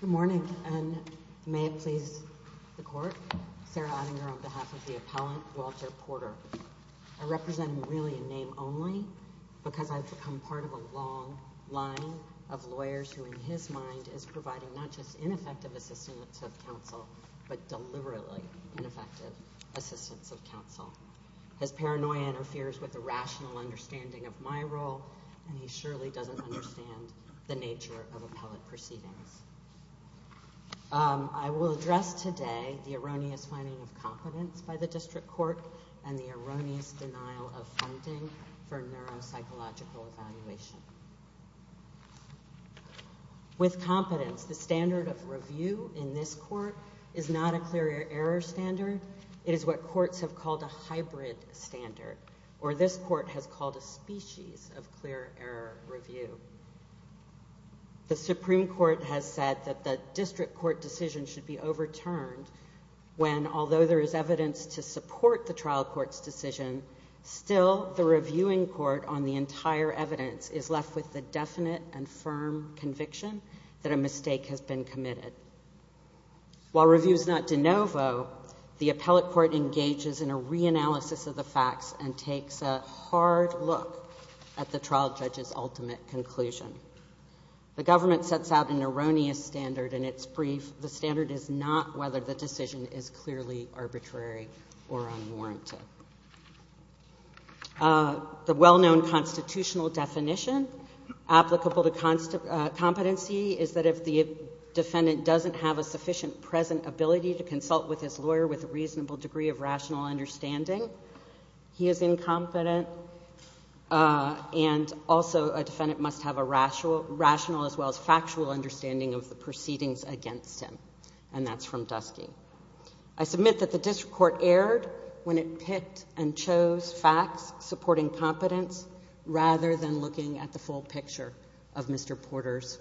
Good morning and may it please the court, Sarah Ottinger on behalf of the appellant Walter Porter. I represent him really in name only because I've become part of a long line of lawyers who in his mind is providing not just ineffective assistance of counsel but deliberately ineffective assistance of counsel. His paranoia interferes with the rational understanding of my role and he surely doesn't understand the nature of appellate proceedings. I will address today the erroneous finding of competence by the district court and the With competence, the standard of review in this court is not a clear error standard. It is what courts have called a hybrid standard or this court has called a species of clear error review. The Supreme Court has said that the district court decision should be overturned when although there is evidence to support the trial court's decision, still the reviewing court on the conviction that a mistake has been committed. While review is not de novo, the appellate court engages in a reanalysis of the facts and takes a hard look at the trial judge's ultimate conclusion. The government sets out an erroneous standard in its brief. The standard is not whether the decision is clearly arbitrary or unwarranted. The well-known constitutional definition applicable to competency is that if the defendant doesn't have a sufficient present ability to consult with his lawyer with a reasonable degree of rational understanding, he is incompetent. And also a defendant must have a rational as well as factual understanding of the proceedings against him. And that's from Dusky. I submit that the district court erred when it picked and chose facts supporting competence rather than looking at the full picture of Mr. Porter's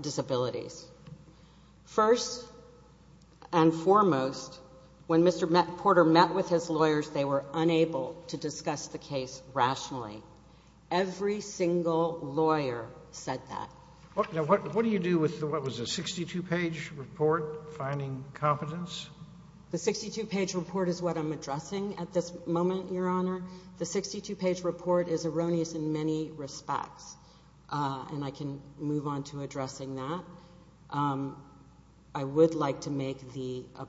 disabilities. First and foremost, when Mr. Porter met with his lawyers, they were unable to discuss the case rationally. Every single lawyer said that. Now, what do you do with what was a 62-page report finding competence? The 62-page report is what I'm addressing at this moment, Your Honor. The 62-page report is erroneous in many respects. And I can move on to addressing that. I would like to make the opinion of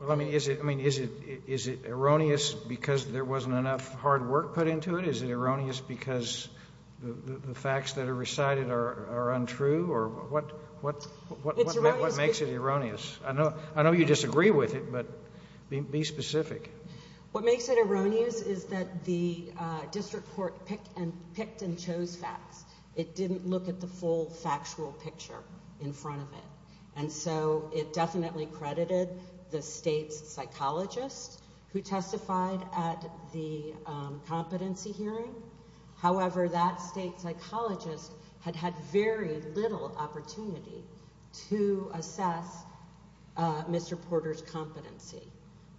Mr. Porter that it is erroneous because there wasn't enough hard work put into it. Is it erroneous because the facts that are recited are untrue or what makes it erroneous? I know you disagree with it, but be specific. What makes it erroneous is that the district court picked and chose facts. It didn't look at the full factual picture in front of it. And so it definitely credited the state's psychologist who testified at the competency hearing. However, that state psychologist had had very little opportunity to assess Mr. Porter's competency.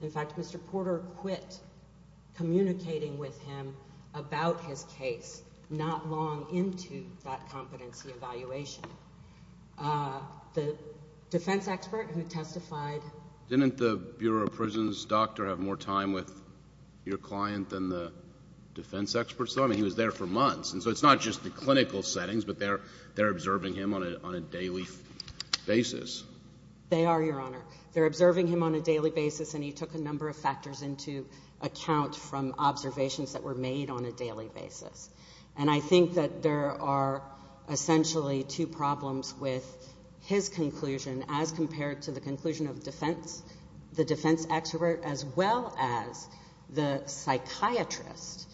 In fact, Mr. Porter quit communicating with him about his case not long into that competency evaluation. The defense expert who testified… Didn't the Bureau of Prisons doctor have more time with your client than the defense expert? I mean, he was there for months. And so it's not just the clinical settings, but they're observing him on a daily basis. They are, Your Honor. They're observing him on a daily basis, and he took a number of factors into account from observations that were made on a daily basis. And I think that there are essentially two problems with his conclusion as compared to the conclusion of defense, the defense expert, as well as the psychiatrist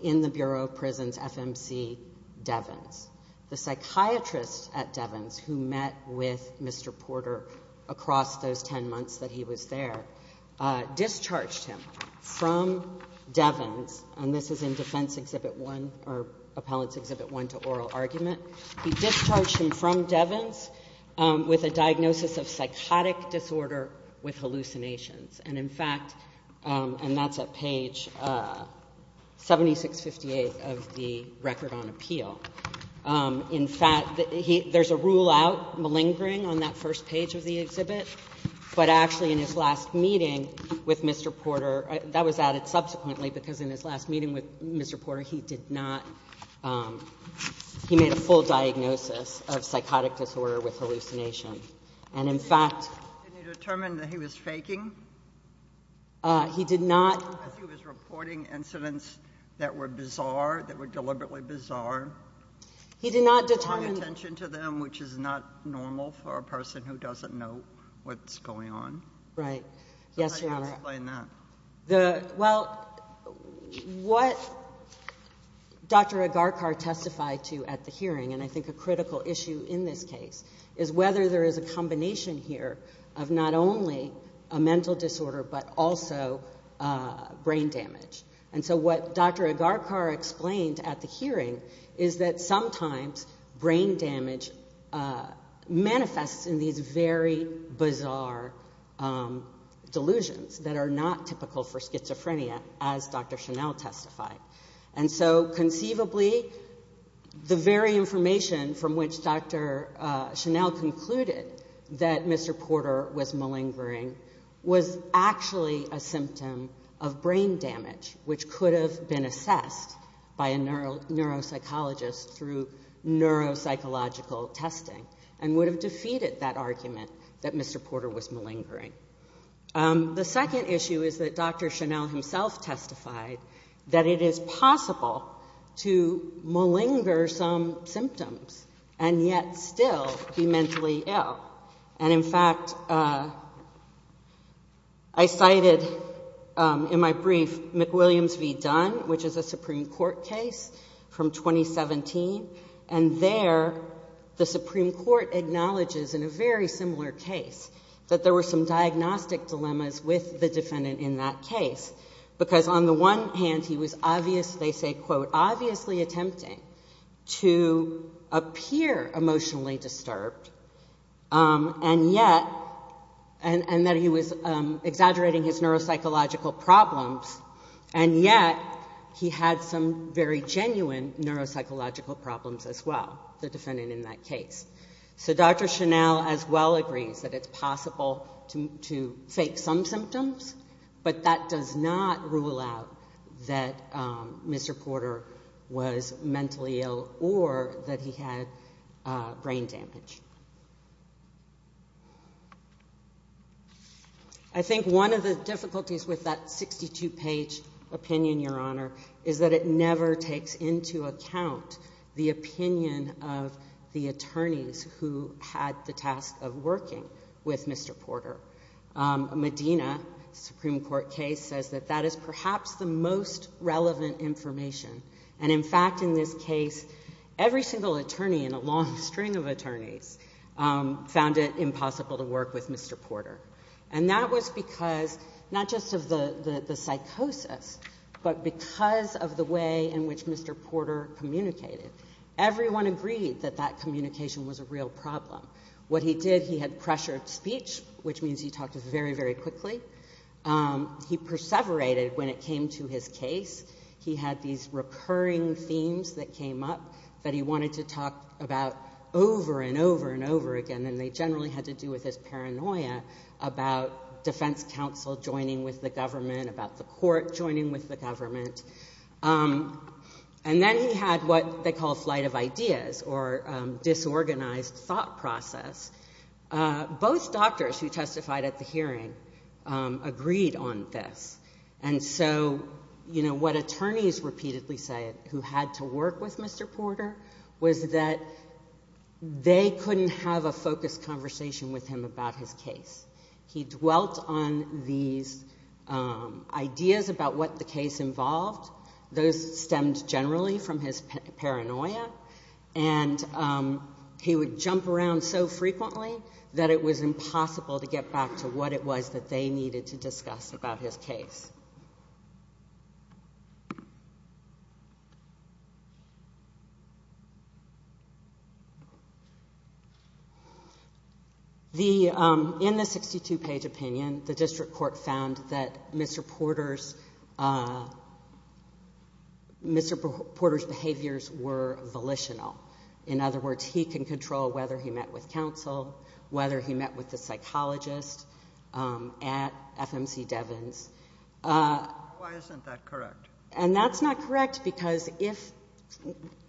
in the Bureau of Prisons, FMC Devens. The psychiatrist at Devens who met with Mr. Porter across those 10 months that he was there discharged him from Devens, and this is in Defense Exhibit 1, or Appellant's Exhibit 1 to Oral Argument, he discharged him from Devens with a diagnosis of psychotic disorder with hallucinations. And in fact, and that's at page 7658 of the Record on Appeal. In fact, there's a rule out malingering on that first page of the exhibit, but actually in his last meeting with Mr. Porter, that was added subsequently, because in his last meeting with Mr. Porter, he did not, he made a full diagnosis of psychotic disorder with hallucinations. And in fact. Did he determine that he was faking? He did not. Because he was reporting incidents that were bizarre, that were deliberately bizarre. He did not determine. I'm paying attention to them, which is not normal for a person who doesn't know what's going on. Right. Yes, Your Honor. Explain that. The, well, what Dr. Agarkar testified to at the hearing, and I think a critical issue in this case, is whether there is a combination here of not only a mental disorder, but also brain damage. And so what Dr. Agarkar explained at the hearing is that sometimes brain damage manifests in these very bizarre delusions that are not typical for schizophrenia, as Dr. Chanel testified. And so conceivably, the very information from which Dr. Chanel concluded that Mr. Porter was malingering was actually a symptom of brain damage, which could have been assessed by a neuropsychologist through neuropsychological testing, and would have defeated that argument that Mr. Porter was malingering. The second issue is that Dr. Chanel himself testified that it is possible to malinger some symptoms and yet still be mentally ill. And in fact, I cited in my brief, McWilliams v. Dunn, which is a Supreme Court case from 2017, and there the Supreme Court acknowledges in a very similar case that there were some diagnostic dilemmas with the defendant in that case. Because on the one hand, he was obviously, they say, quote, obviously attempting to appear emotionally disturbed, and yet, and that he was exaggerating his neuropsychological problems, and yet he had some very genuine neuropsychological problems as well, the defendant in that case. So Dr. Chanel as well agrees that it's possible to fake some symptoms, but that does not rule out that Mr. Porter was mentally ill or that he had brain damage. I think one of the difficulties with that 62-page opinion, Your Honor, is that it never takes into account the opinion of the attorneys who had the task of working with Mr. Porter. Medina, Supreme Court case, says that that is perhaps the most relevant information. And in fact, in this case, every single attorney in a long string of attorneys found it impossible to work with Mr. Porter. And that was because not just of the psychosis, but because of the way in which Mr. Porter communicated. Everyone agreed that that communication was a real problem. What he did, he had pressured speech, which means he talked very, very quickly. He perseverated when it came to his case. He had these recurring themes that came up that he wanted to talk about over and over and over again, and they generally had to do with his paranoia about defense counsel joining with the government, about the court joining with the government. And then he had what they call flight of ideas or disorganized thought process. Both doctors who testified at the hearing agreed on this. And so, you know, what attorneys repeatedly say who had to work with Mr. Porter was that they couldn't have a focused conversation with him about his case. He dwelt on these ideas about what the case involved. Those stemmed generally from his paranoia. And he would jump around so frequently that it was impossible to get back to what it was that they needed to discuss about his case. In the 62-page opinion, the district court found that Mr. Porter's behaviors were volitional. In other words, he can control whether he met with counsel, whether he met with the Why isn't that correct? And that's not correct because if,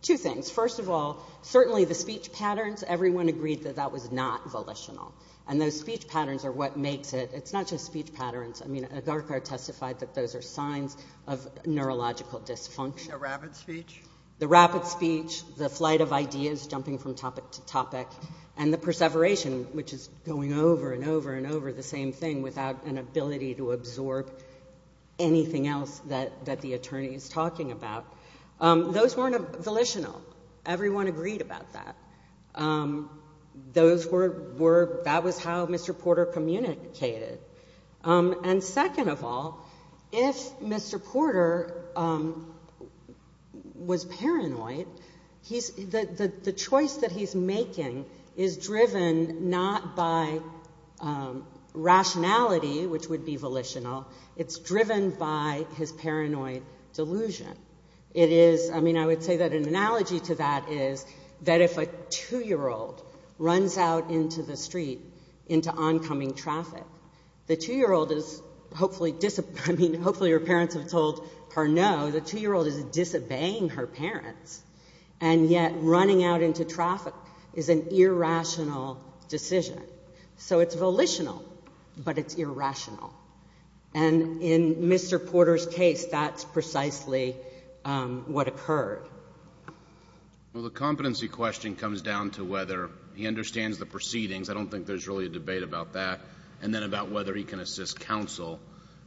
two things. First of all, certainly the speech patterns, everyone agreed that that was not volitional. And those speech patterns are what makes it. It's not just speech patterns. I mean, Agarkar testified that those are signs of neurological dysfunction. The rapid speech? The rapid speech, the flight of ideas, jumping from topic to topic, and the perseveration, which is going over and over and over the same thing without an ability to absorb anything else that the attorney is talking about. Those weren't volitional. Everyone agreed about that. That was how Mr. Porter communicated. And second of all, if Mr. Porter was paranoid, the choice that he's making is driven not by rationality, which would be volitional, it's driven by his paranoid delusion. It is, I mean, I would say that an analogy to that is that if a two-year-old runs out into the street into oncoming traffic, the two-year-old is hopefully, I mean, hopefully her parents have told her no, the two-year-old is disobeying her parents, and yet running out into traffic is an irrational decision. So it's volitional, but it's irrational. And in Mr. Porter's case, that's precisely what occurred. Well, the competency question comes down to whether he understands the proceedings. I don't think there's really a debate about that. And then about whether he can assist counsel.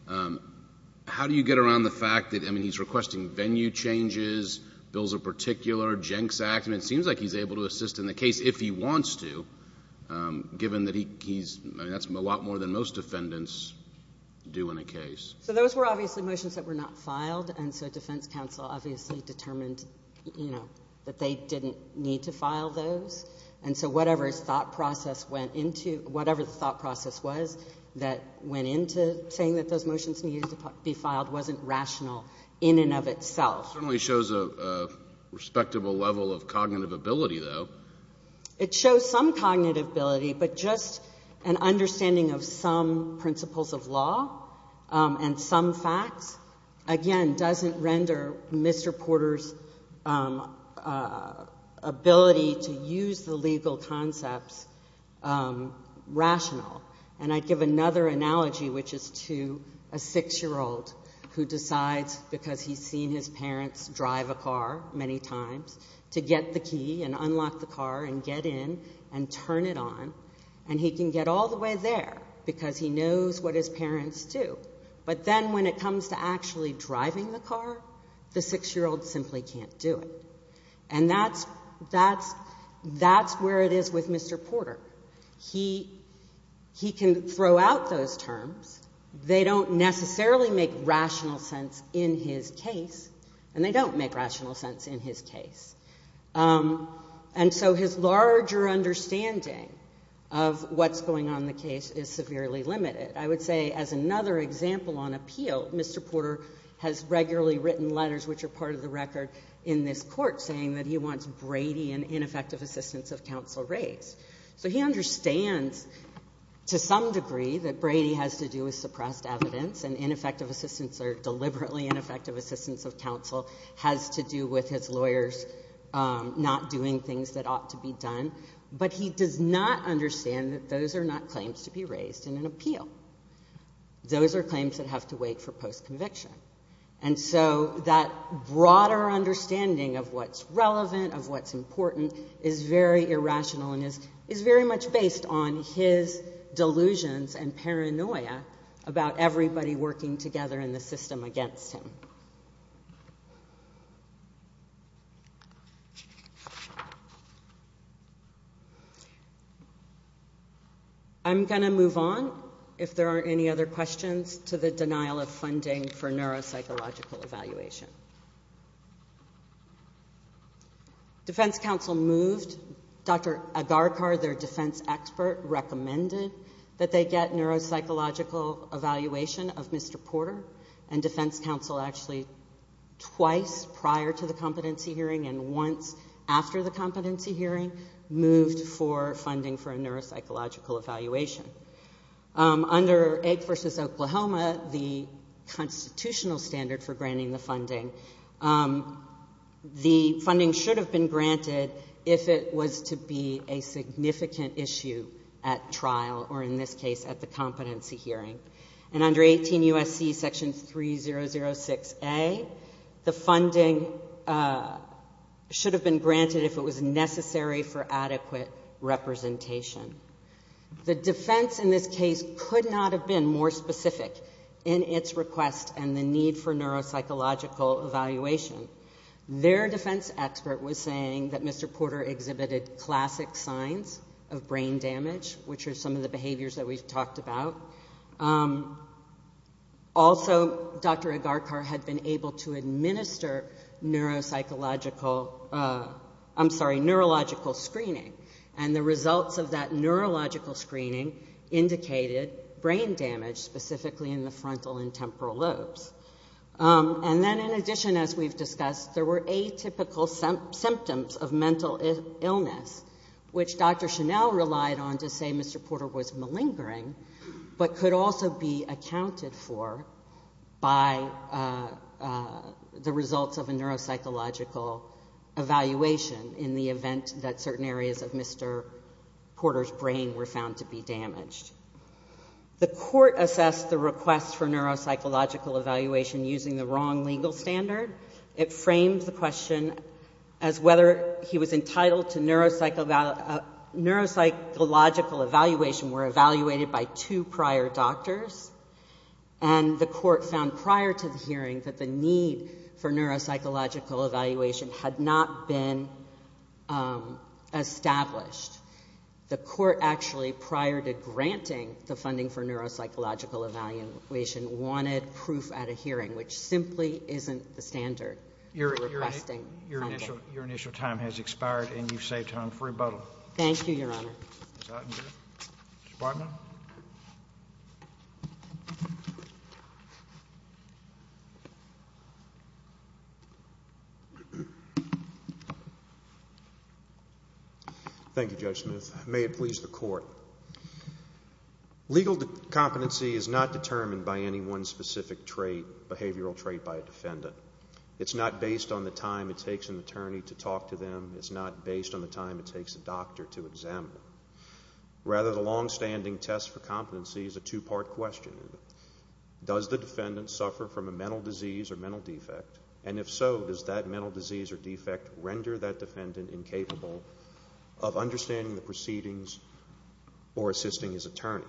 How do you get around the fact that, I mean, he's requesting venue changes, bills of particular, Jenks Act, and it seems like he's able to assist in the case if he wants to, given that he's, I mean, that's a lot more than most defendants do in a case. So those were obviously motions that were not filed, and so defense counsel obviously determined, you know, that they didn't need to file those. And so whatever his thought process went into, whatever the thought process was that went into saying that those motions needed to be filed wasn't rational in and of itself. It certainly shows a respectable level of cognitive ability, though. It shows some cognitive ability, but just an understanding of some principles of law and some facts, again, doesn't render Mr. Porter's ability to use the legal concepts rational. And I'd give another analogy, which is to a six-year-old who decides, because he's seen his parents drive a car many times, to get the key and unlock the car and get in and turn it on. And he can get all the way there because he knows what his parents do, but then when it comes to actually driving the car, the six-year-old simply can't do it. And that's where it is with Mr. Porter. He can throw out those terms. They don't necessarily make rational sense in his case, and they don't make rational sense in his case. And so his larger understanding of what's going on in the case is severely limited. I would say as another example on appeal, Mr. Porter has regularly written letters, which are part of the record in this Court, saying that he wants Brady and ineffective assistance of counsel raised. So he understands to some degree that Brady has to do with suppressed evidence, and ineffective assistance of counsel has to do with his lawyers not doing things that ought to be done. But he does not understand that those are not claims to be raised in an appeal. Those are claims that have to wait for post-conviction. And so that broader understanding of what's relevant, of what's important, is very irrational and is very much based on his delusions and paranoia about everybody working together in the system against him. I'm going to move on, if there aren't any other questions, to the denial of funding for neuropsychological evaluation. Defense counsel moved Dr. Agarkar, their defense expert, recommended that they get neuropsychological evaluation of Mr. Porter, and defense counsel actually twice prior to the competency hearing and once after the competency hearing moved for funding for a neuropsychological evaluation. Under Egg v. Oklahoma, the constitutional standard for granting the funding, the funding should have been granted if it was to be a significant issue at trial, or in this case at the competency hearing. And under 18 U.S.C. section 3006A, the funding should have been granted if it was necessary for adequate representation. The defense in this case could not have been more specific in its request and the need for neuropsychological evaluation. Their defense expert was saying that Mr. Porter exhibited classic signs of brain damage, which are some of the behaviors that we've talked about. Also Dr. Agarkar had been able to administer neuropsychological, I'm sorry, neurological screening and the results of that neurological screening indicated brain damage, specifically in the frontal and temporal lobes. And then in addition, as we've discussed, there were atypical symptoms of mental illness, which Dr. Chanel relied on to say Mr. Porter was malingering, but could also be accounted for by the results of a neuropsychological evaluation in the event that certain areas of Mr. Porter's brain were found to be damaged. The court assessed the request for neuropsychological evaluation using the wrong legal standard. It framed the question as whether he was entitled to neuropsychological evaluation were evaluated by two prior doctors and the court found prior to the hearing that the need for neuropsychological evaluation had not been established. The court actually, prior to granting the funding for neuropsychological evaluation, wanted proof at a hearing, which simply isn't the standard for requesting funding. Your initial time has expired and you've saved time for rebuttal. Thank you, Your Honor. Thank you, Judge Smith. May it please the court. Legal competency is not determined by any one specific behavioral trait by a defendant. It's not based on the time it takes an attorney to talk to them. It's not based on the time it takes a doctor to examine them. Rather, the longstanding test for competency is a two-part question. Does the defendant suffer from a mental disease or mental defect? And if so, does that mental disease or defect render that defendant incapable of understanding the proceedings or assisting his attorney?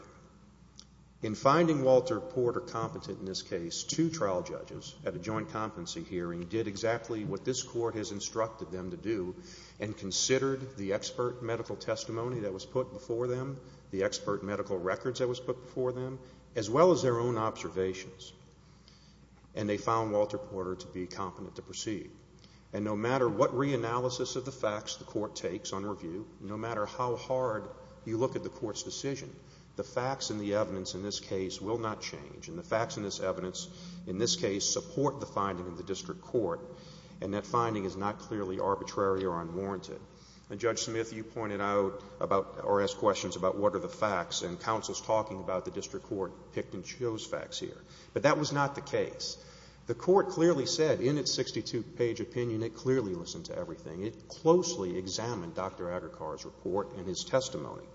In finding Walter Porter competent in this case, two trial judges at a joint competency hearing did exactly what this court has instructed them to do and considered the expert medical testimony that was put before them, the expert medical records that was put before them, as well as their own observations. And they found Walter Porter to be competent to proceed. And no matter what reanalysis of the facts the court takes on review, no matter how hard you look at the court's decision, the facts and the evidence in this case will not change. And the facts in this evidence, in this case, support the finding of the district court and that finding is not clearly arbitrary or unwarranted. And Judge Smith, you pointed out about or asked questions about what are the facts and counsel's talking about the district court picked and chose facts here. But that was not the case. The court clearly said in its 62-page opinion, it clearly listened to everything. It closely examined Dr. Agarkar's report and his testimony.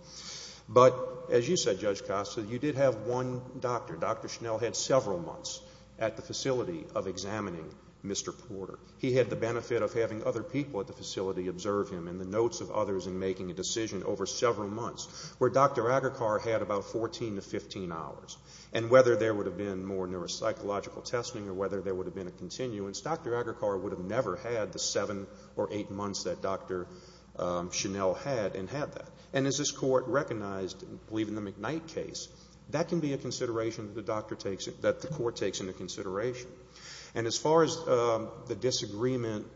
But as you said, Judge Costa, you did have one doctor. Dr. Schnell had several months at the facility of examining Mr. Porter. He had the benefit of having other people at the facility observe him and the notes of others in making a decision over several months where Dr. Agarkar had about 14 to 15 hours. And whether there would have been more neuropsychological testing or whether there would have been a continuance, Dr. Agarkar would have never had the 7 or 8 months that Dr. Schnell had and had that. And as this court recognized, I believe in the McKnight case, that can be a consideration that the doctor takes, that the court takes into consideration. And as far as the disagreement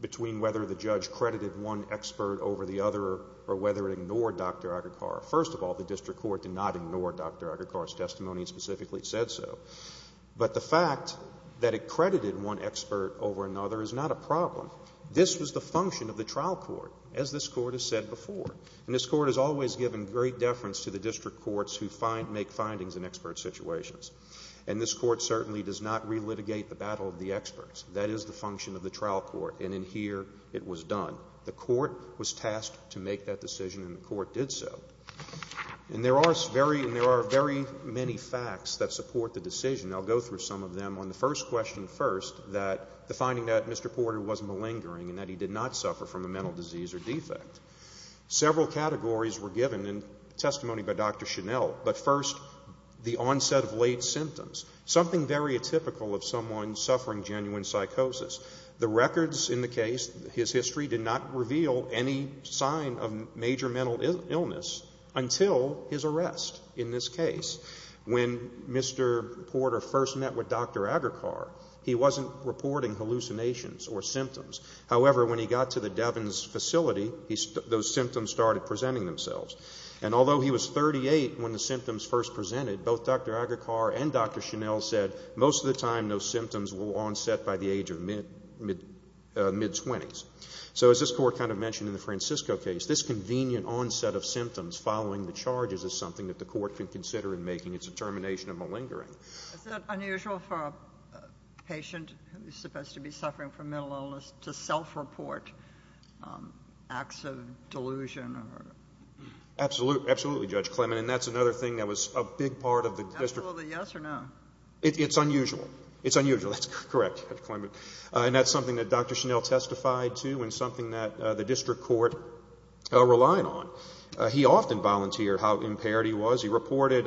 between whether the judge credited one expert over the other or whether it ignored Dr. Agarkar. First of all, the district court did not ignore Dr. Agarkar's testimony and specifically said so. But the fact that it credited one expert over another is not a problem. This was the function of the trial court, as this court has said before. And this court has always given great deference to the district courts who make findings in expert situations. And this court certainly does not relitigate the battle of the experts. That is the function of the trial court. And in here, it was done. The court was tasked to make that decision and the court did so. And there are very many facts that support the decision. I'll go through some of them. On the first question first, the finding that Mr. Porter was malingering and that he did not suffer from a mental disease or defect. Several categories were given in testimony by Dr. Schnell. But first, the onset of late symptoms. Something very atypical of someone suffering genuine psychosis. The records in the case, his history, did not reveal any sign of major mental illness until his arrest in this case. When Mr. Porter first met with Dr. Agarkar, he wasn't reporting hallucinations or symptoms. However, when he got to the Devens facility, those symptoms started presenting themselves. And although he was 38 when the symptoms first presented, both Dr. Agarkar and Dr. Schnell said most of the time, those symptoms will onset by the age of mid-20s. So as this court kind of mentioned in the Francisco case, this convenient onset of symptoms following the charges is something that the court can consider in making its determination of malingering. Is that unusual for a patient who's supposed to be suffering from mental illness to self-report acts of delusion or? Absolutely, Judge Clement. And that's another thing that was a big part of the district. Is it unusual to yes or no? It's unusual. It's unusual. That's correct, Judge Clement. And that's something that Dr. Schnell testified to and something that the district court relied on. He often volunteered how impaired he was. He reported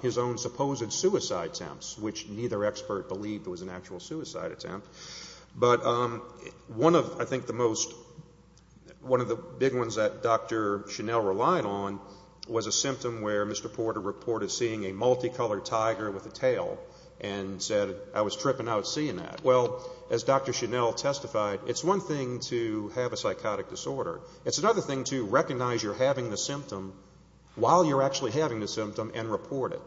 his own supposed suicide attempts, which neither expert believed was an actual suicide attempt. But one of, I think, the most, one of the big ones that Dr. Schnell relied on was a tiger with a tail and said, I was tripping out seeing that. Well, as Dr. Schnell testified, it's one thing to have a psychotic disorder. It's another thing to recognize you're having the symptom while you're actually having the symptom and report it.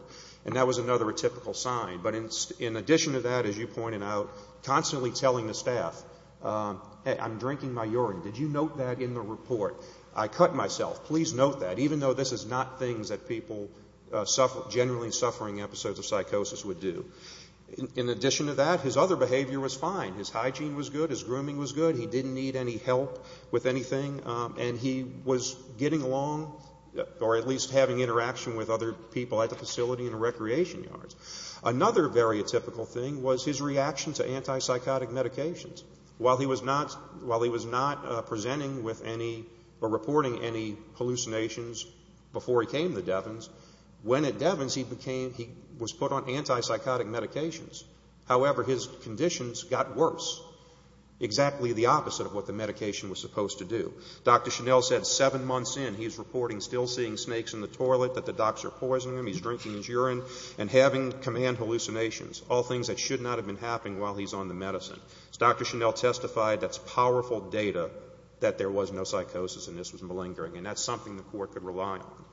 And that was another typical sign. But in addition to that, as you pointed out, constantly telling the staff, hey, I'm drinking my urine. Did you note that in the report? I cut myself. Please note that. And even though this is not things that people suffering, generally suffering episodes of psychosis would do. In addition to that, his other behavior was fine. His hygiene was good. His grooming was good. He didn't need any help with anything. And he was getting along or at least having interaction with other people at the facility and recreation yards. Another very typical thing was his reaction to antipsychotic medications. While he was not presenting with any or reporting any hallucinations before he came to Devins, when at Devins he was put on antipsychotic medications. However, his conditions got worse, exactly the opposite of what the medication was supposed to do. Dr. Schnell said seven months in, he's reporting still seeing snakes in the toilet that the docs are poisoning him, he's drinking his urine, and having command hallucinations, all things that should not have been happening while he's on the medicine. As Dr. Schnell testified, that's powerful data that there was no psychosis and this was malingering. And that's something the court could rely on.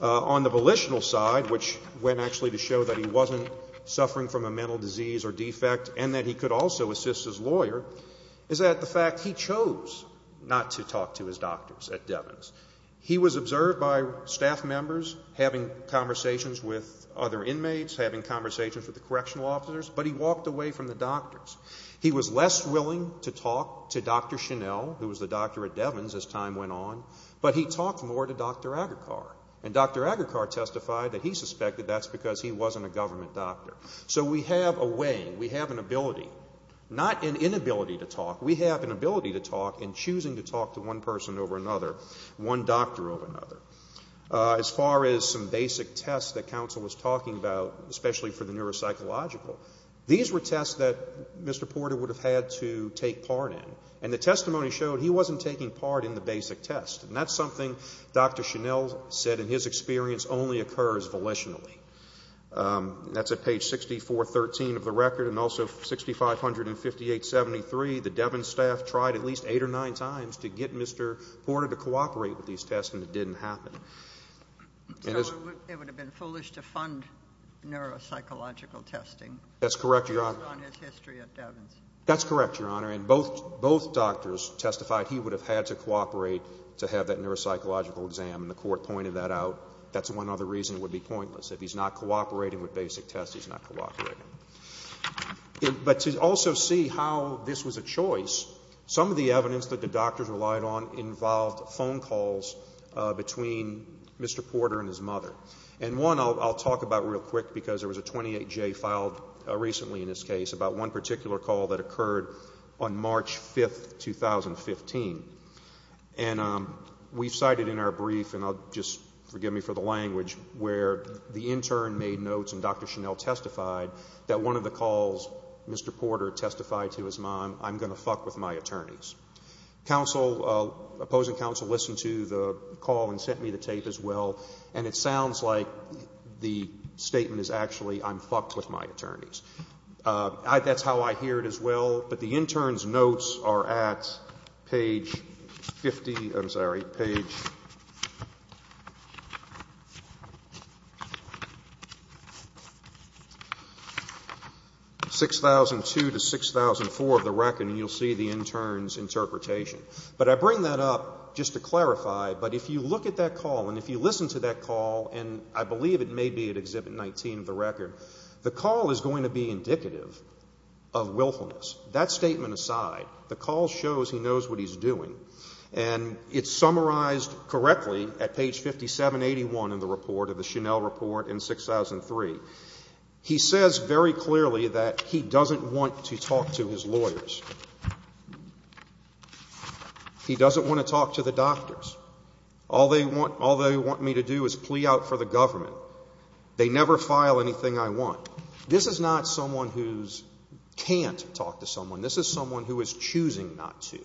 On the volitional side, which went actually to show that he wasn't suffering from a mental disease or defect and that he could also assist his lawyer, is that the fact he chose not to talk to his doctors at Devins. He was observed by staff members, having conversations with other inmates, having conversations with the correctional officers, but he walked away from the doctors. He was less willing to talk to Dr. Schnell, who was the doctor at Devins as time went on, but he talked more to Dr. Agarkar. And Dr. Agarkar testified that he suspected that's because he wasn't a government doctor. So we have a way, we have an ability, not an inability to talk, we have an ability to talk in choosing to talk to one person over another, one doctor over another. As far as some basic tests that counsel was talking about, especially for the neuropsychological, these were tests that Mr. Porter would have had to take part in. And the testimony showed he wasn't taking part in the basic test. And that's something Dr. Schnell said in his experience only occurs volitionally. That's at page 6413 of the record and also 6500 and 5873, the Devins staff tried at least eight or nine times to get Mr. Porter to cooperate with these tests and it didn't happen. So it would have been foolish to fund neuropsychological testing based on his history at Devins. That's correct, Your Honor. And both doctors testified he would have had to cooperate to have that neuropsychological exam and the court pointed that out. That's one other reason it would be pointless. If he's not cooperating with basic tests, he's not cooperating. But to also see how this was a choice, some of the evidence that the doctors relied on involved phone calls between Mr. Porter and his mother. And one I'll talk about real quick because there was a 28J filed recently in this case about one particular call that occurred on March 5th, 2015. And we've cited in our brief, and I'll just, forgive me for the language, where the intern made notes and Dr. Chanel testified that one of the calls Mr. Porter testified to his mom, I'm going to fuck with my attorneys. Counsel, opposing counsel listened to the call and sent me the tape as well. And it sounds like the statement is actually, I'm fucked with my attorneys. That's how I hear it as well. But the intern's notes are at page 50, I'm sorry, page 6,002 to 6,004 of the record. And you'll see the intern's interpretation. But I bring that up just to clarify, but if you look at that call and if you listen to that call, and I believe it may be at Exhibit 19 of the record, the call is going to be indicative of willfulness. That statement aside, the call shows he knows what he's doing. And it's summarized correctly at page 5781 in the report of the Chanel report in 6,003. He says very clearly that he doesn't want to talk to his lawyers. He doesn't want to talk to the doctors. All they want me to do is plea out for the government. They never file anything I want. This is not someone who can't talk to someone. This is someone who is choosing not to.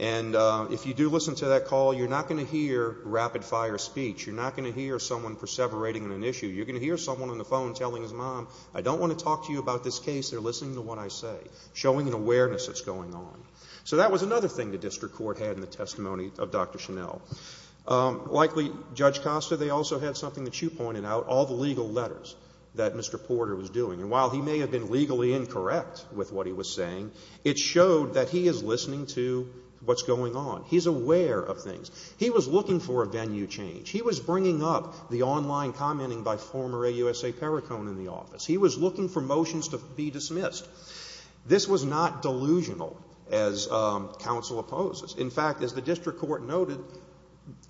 And if you do listen to that call, you're not going to hear rapid fire speech. You're not going to hear someone perseverating in an issue. You're going to hear someone on the phone telling his mom, I don't want to talk to you about this case. They're listening to what I say, showing an awareness that's going on. So that was another thing the district court had in the testimony of Dr. Chanel. Likely, Judge Costa, they also had something that you pointed out, all the legal letters that Mr. Porter was doing. And while he may have been legally incorrect with what he was saying, it showed that he is listening to what's going on. He's aware of things. He was looking for a venue change. He was bringing up the online commenting by former AUSA Perricone in the office. He was looking for motions to be dismissed. This was not delusional, as counsel opposes. In fact, as the district court noted,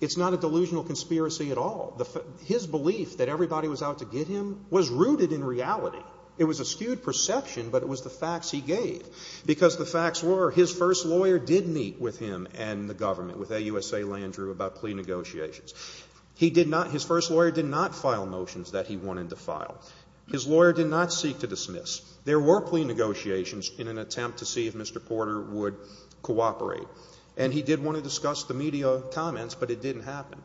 it's not a delusional conspiracy at all. His belief that everybody was out to get him was rooted in reality. It was a skewed perception, but it was the facts he gave. Because the facts were, his first lawyer did meet with him and the government, with AUSA Landrieu, about plea negotiations. He did not, his first lawyer did not file motions that he wanted to file. His lawyer did not seek to dismiss. There were plea negotiations in an attempt to see if Mr. Porter would cooperate. And he did want to discuss the media comments, but it didn't happen.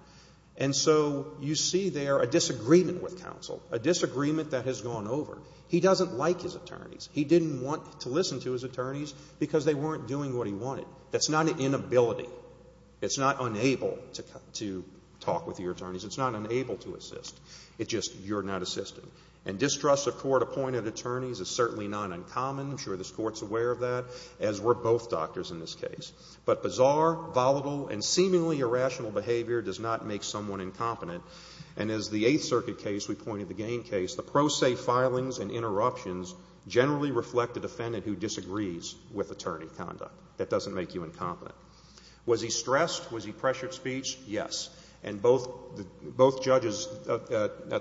And so you see there a disagreement with counsel, a disagreement that has gone over. He doesn't like his attorneys. He didn't want to listen to his attorneys because they weren't doing what he wanted. That's not an inability. It's not unable to talk with your attorneys. It's not unable to assist. It's just you're not assisting. And distrust of court-appointed attorneys is certainly not uncommon. I'm sure this court's aware of that, as were both doctors in this case. But bizarre, volatile, and seemingly irrational behavior does not make someone incompetent. And as the Eighth Circuit case, we pointed to the Gaines case, the pro se filings and interruptions generally reflect a defendant who disagrees with attorney conduct. That doesn't make you incompetent. Was he stressed? Was he pressured speech? Yes. And both judges at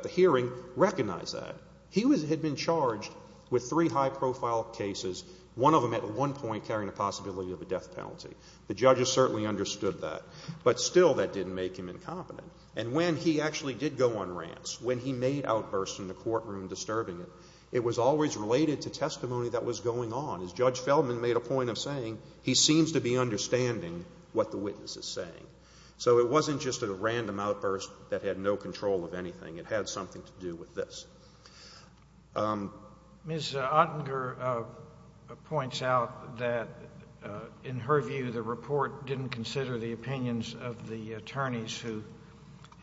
the hearing recognized that. He had been charged with three high-profile cases, one of them at one point carrying a possibility of a death penalty. The judges certainly understood that. But still, that didn't make him incompetent. And when he actually did go on rants, when he made outbursts in the courtroom disturbing it, it was always related to testimony that was going on. As Judge Feldman made a point of saying, he seems to be understanding what the witness is saying. So it wasn't just a random outburst that had no control of anything. It had something to do with this. Ms. Ottenger points out that, in her view, the report didn't consider the opinions of the attorneys who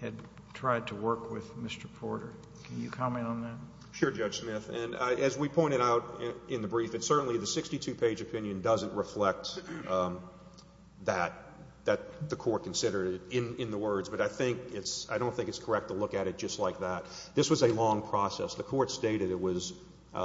had tried to work with Mr. Porter. Can you comment on that? Sure, Judge Smith. And as we pointed out in the brief, it's certainly the 62-page opinion doesn't reflect that, that the court considered it in the words. But I think it's – I don't think it's correct to look at it just like that. This was a long process. The court stated it was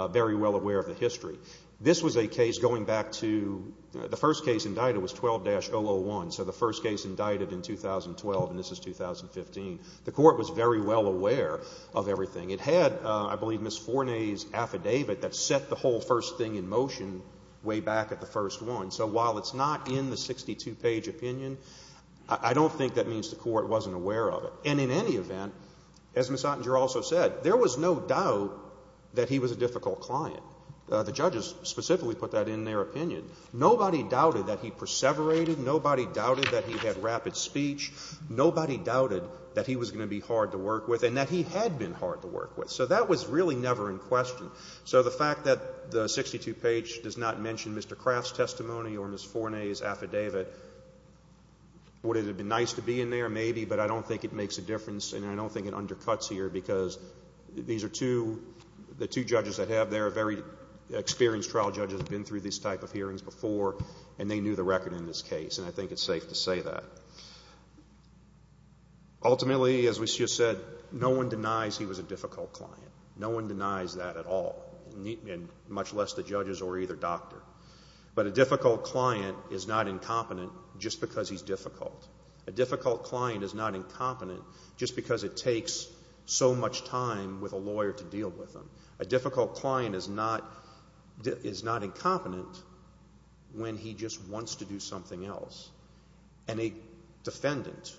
very well aware of the history. This was a case going back to – the first case indicted was 12-001. So the first case indicted in 2012, and this is 2015. The court was very well aware of everything. It had, I believe, Ms. Forney's affidavit that set the whole first thing in motion way back at the first one. So while it's not in the 62-page opinion, I don't think that means the court wasn't aware of it. And in any event, as Ms. Ottinger also said, there was no doubt that he was a difficult client. The judges specifically put that in their opinion. Nobody doubted that he perseverated. Nobody doubted that he had rapid speech. Nobody doubted that he was going to be hard to work with and that he had been hard to work with. So that was really never in question. So the fact that the 62-page does not mention Mr. Craft's testimony or Ms. Forney's affidavit, would it have been nice to be in there? Maybe, but I don't think it makes a difference, and I don't think it undercuts here, because these are two, the two judges that have there are very experienced trial judges, have been through these type of hearings before, and they knew the record in this case, and I think it's safe to say that. Ultimately, as we just said, no one denies he was a difficult client. No one denies that at all, much less the judges or either doctor. But a difficult client is not incompetent just because he's difficult. A difficult client is not incompetent just because it takes so much time with a lawyer to deal with him. A difficult client is not incompetent when he just wants to do something else. And a defendant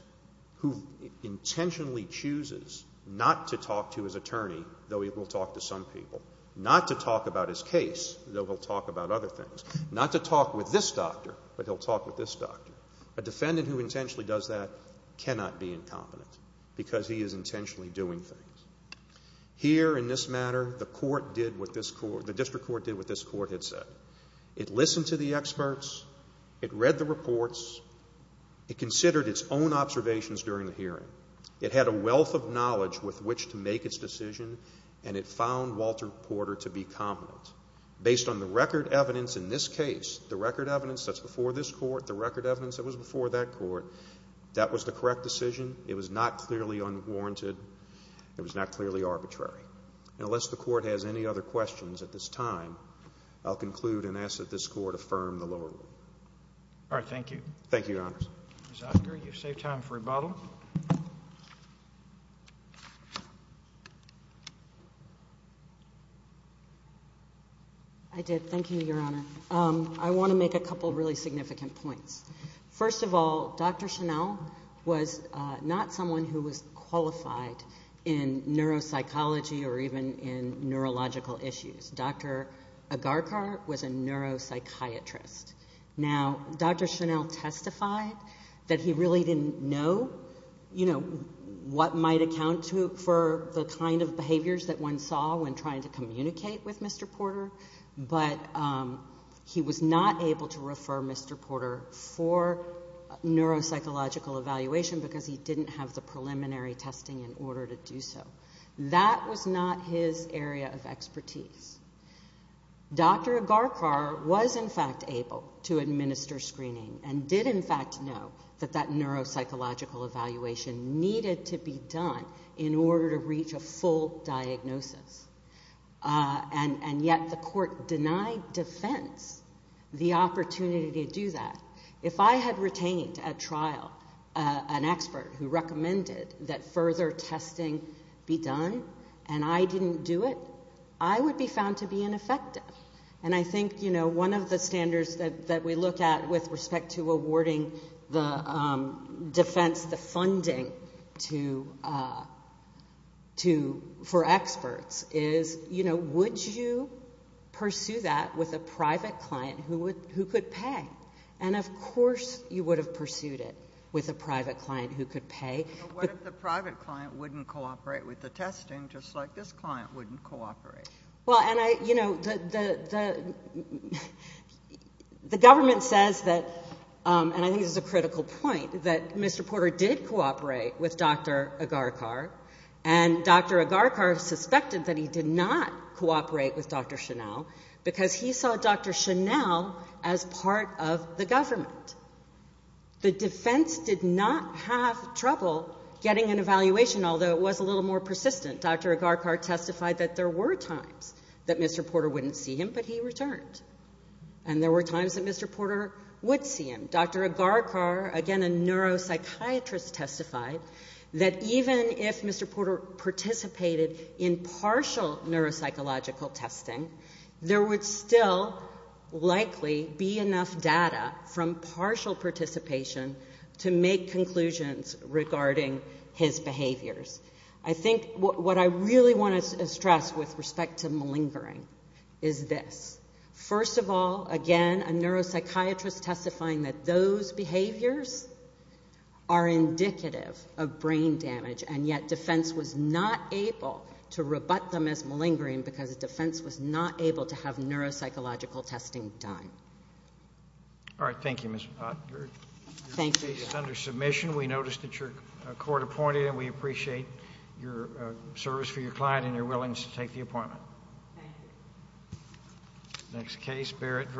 who intentionally chooses not to talk to his attorney, though he will talk to some people, not to talk about his case, though he'll talk about other things, not to talk with this doctor, but he'll talk with this doctor. A defendant who intentionally does that cannot be incompetent, because he is intentionally doing things. Here, in this matter, the court did what this court, the district court did what this court had said. It listened to the experts. It read the reports. It considered its own observations during the hearing. It had a wealth of knowledge with which to make its decision, and it found Walter Porter to be competent. Based on the record evidence in this case, the record evidence that's before this court, the record evidence that was before that court, that was the correct decision. It was not clearly unwarranted. It was not clearly arbitrary. And unless the court has any other questions at this time, I'll conclude and ask that this court affirm the lower rule. All right, thank you. Thank you, Your Honors. Ms. Agar, you've saved time for rebuttal. I did. Thank you, Your Honor. I want to make a couple of really significant points. First of all, Dr. Chanel was not someone who was qualified in neuropsychology or even in neurological issues. Dr. Agarkar was a neuropsychiatrist. Now, Dr. Chanel testified that he really didn't know, you know, what might account for the kind of behaviors that one saw when trying to communicate with Mr. Porter, but he was not able to refer Mr. Porter for neuropsychological evaluation because he didn't have the preliminary testing in order to do so. That was not his area of expertise. Dr. Agarkar was, in fact, able to administer screening and did, in fact, know that that neuropsychological evaluation needed to be done in order to reach a full diagnosis. And yet the court denied defense the opportunity to do that. If I had retained at trial an expert who recommended that further testing be done and I didn't do it, I would be found to be ineffective. And I think, you know, one of the standards that we look at with respect to awarding the defense, the funding for experts is, you know, would you pursue that with a private client who could pay? And, of course, you would have pursued it with a private client who could pay. But what if the private client wouldn't cooperate with the testing, just like this client wouldn't cooperate? Well, and I, you know, the government says that, and I think this is a critical point, that Mr. Porter did cooperate with Dr. Agarkar, and Dr. Agarkar suspected that he did not cooperate with Dr. Chanel because he saw Dr. Chanel as part of the government. The defense did not have trouble getting an evaluation, although it was a little more persistent. Dr. Agarkar testified that there were times that Mr. Porter wouldn't see him, but he returned. And there were times that Mr. Porter would see him. Dr. Agarkar, again a neuropsychiatrist, testified that even if Mr. Porter participated in partial neuropsychological testing, there would still likely be enough data from partial participation to make conclusions regarding his behaviors. I think what I really want to stress with respect to malingering is this. First of all, again, a neuropsychiatrist testifying that those behaviors are indicative of brain damage, and yet defense was not able to rebut them as malingering because the defense was not able to have neuropsychological testing done. All right. Thank you, Ms. Ott. Thank you. Your case is under submission. We notice that you're court-appointed, and we appreciate your service for your client and your willingness to take the appointment. Thank you. Next case, Barrett v. H.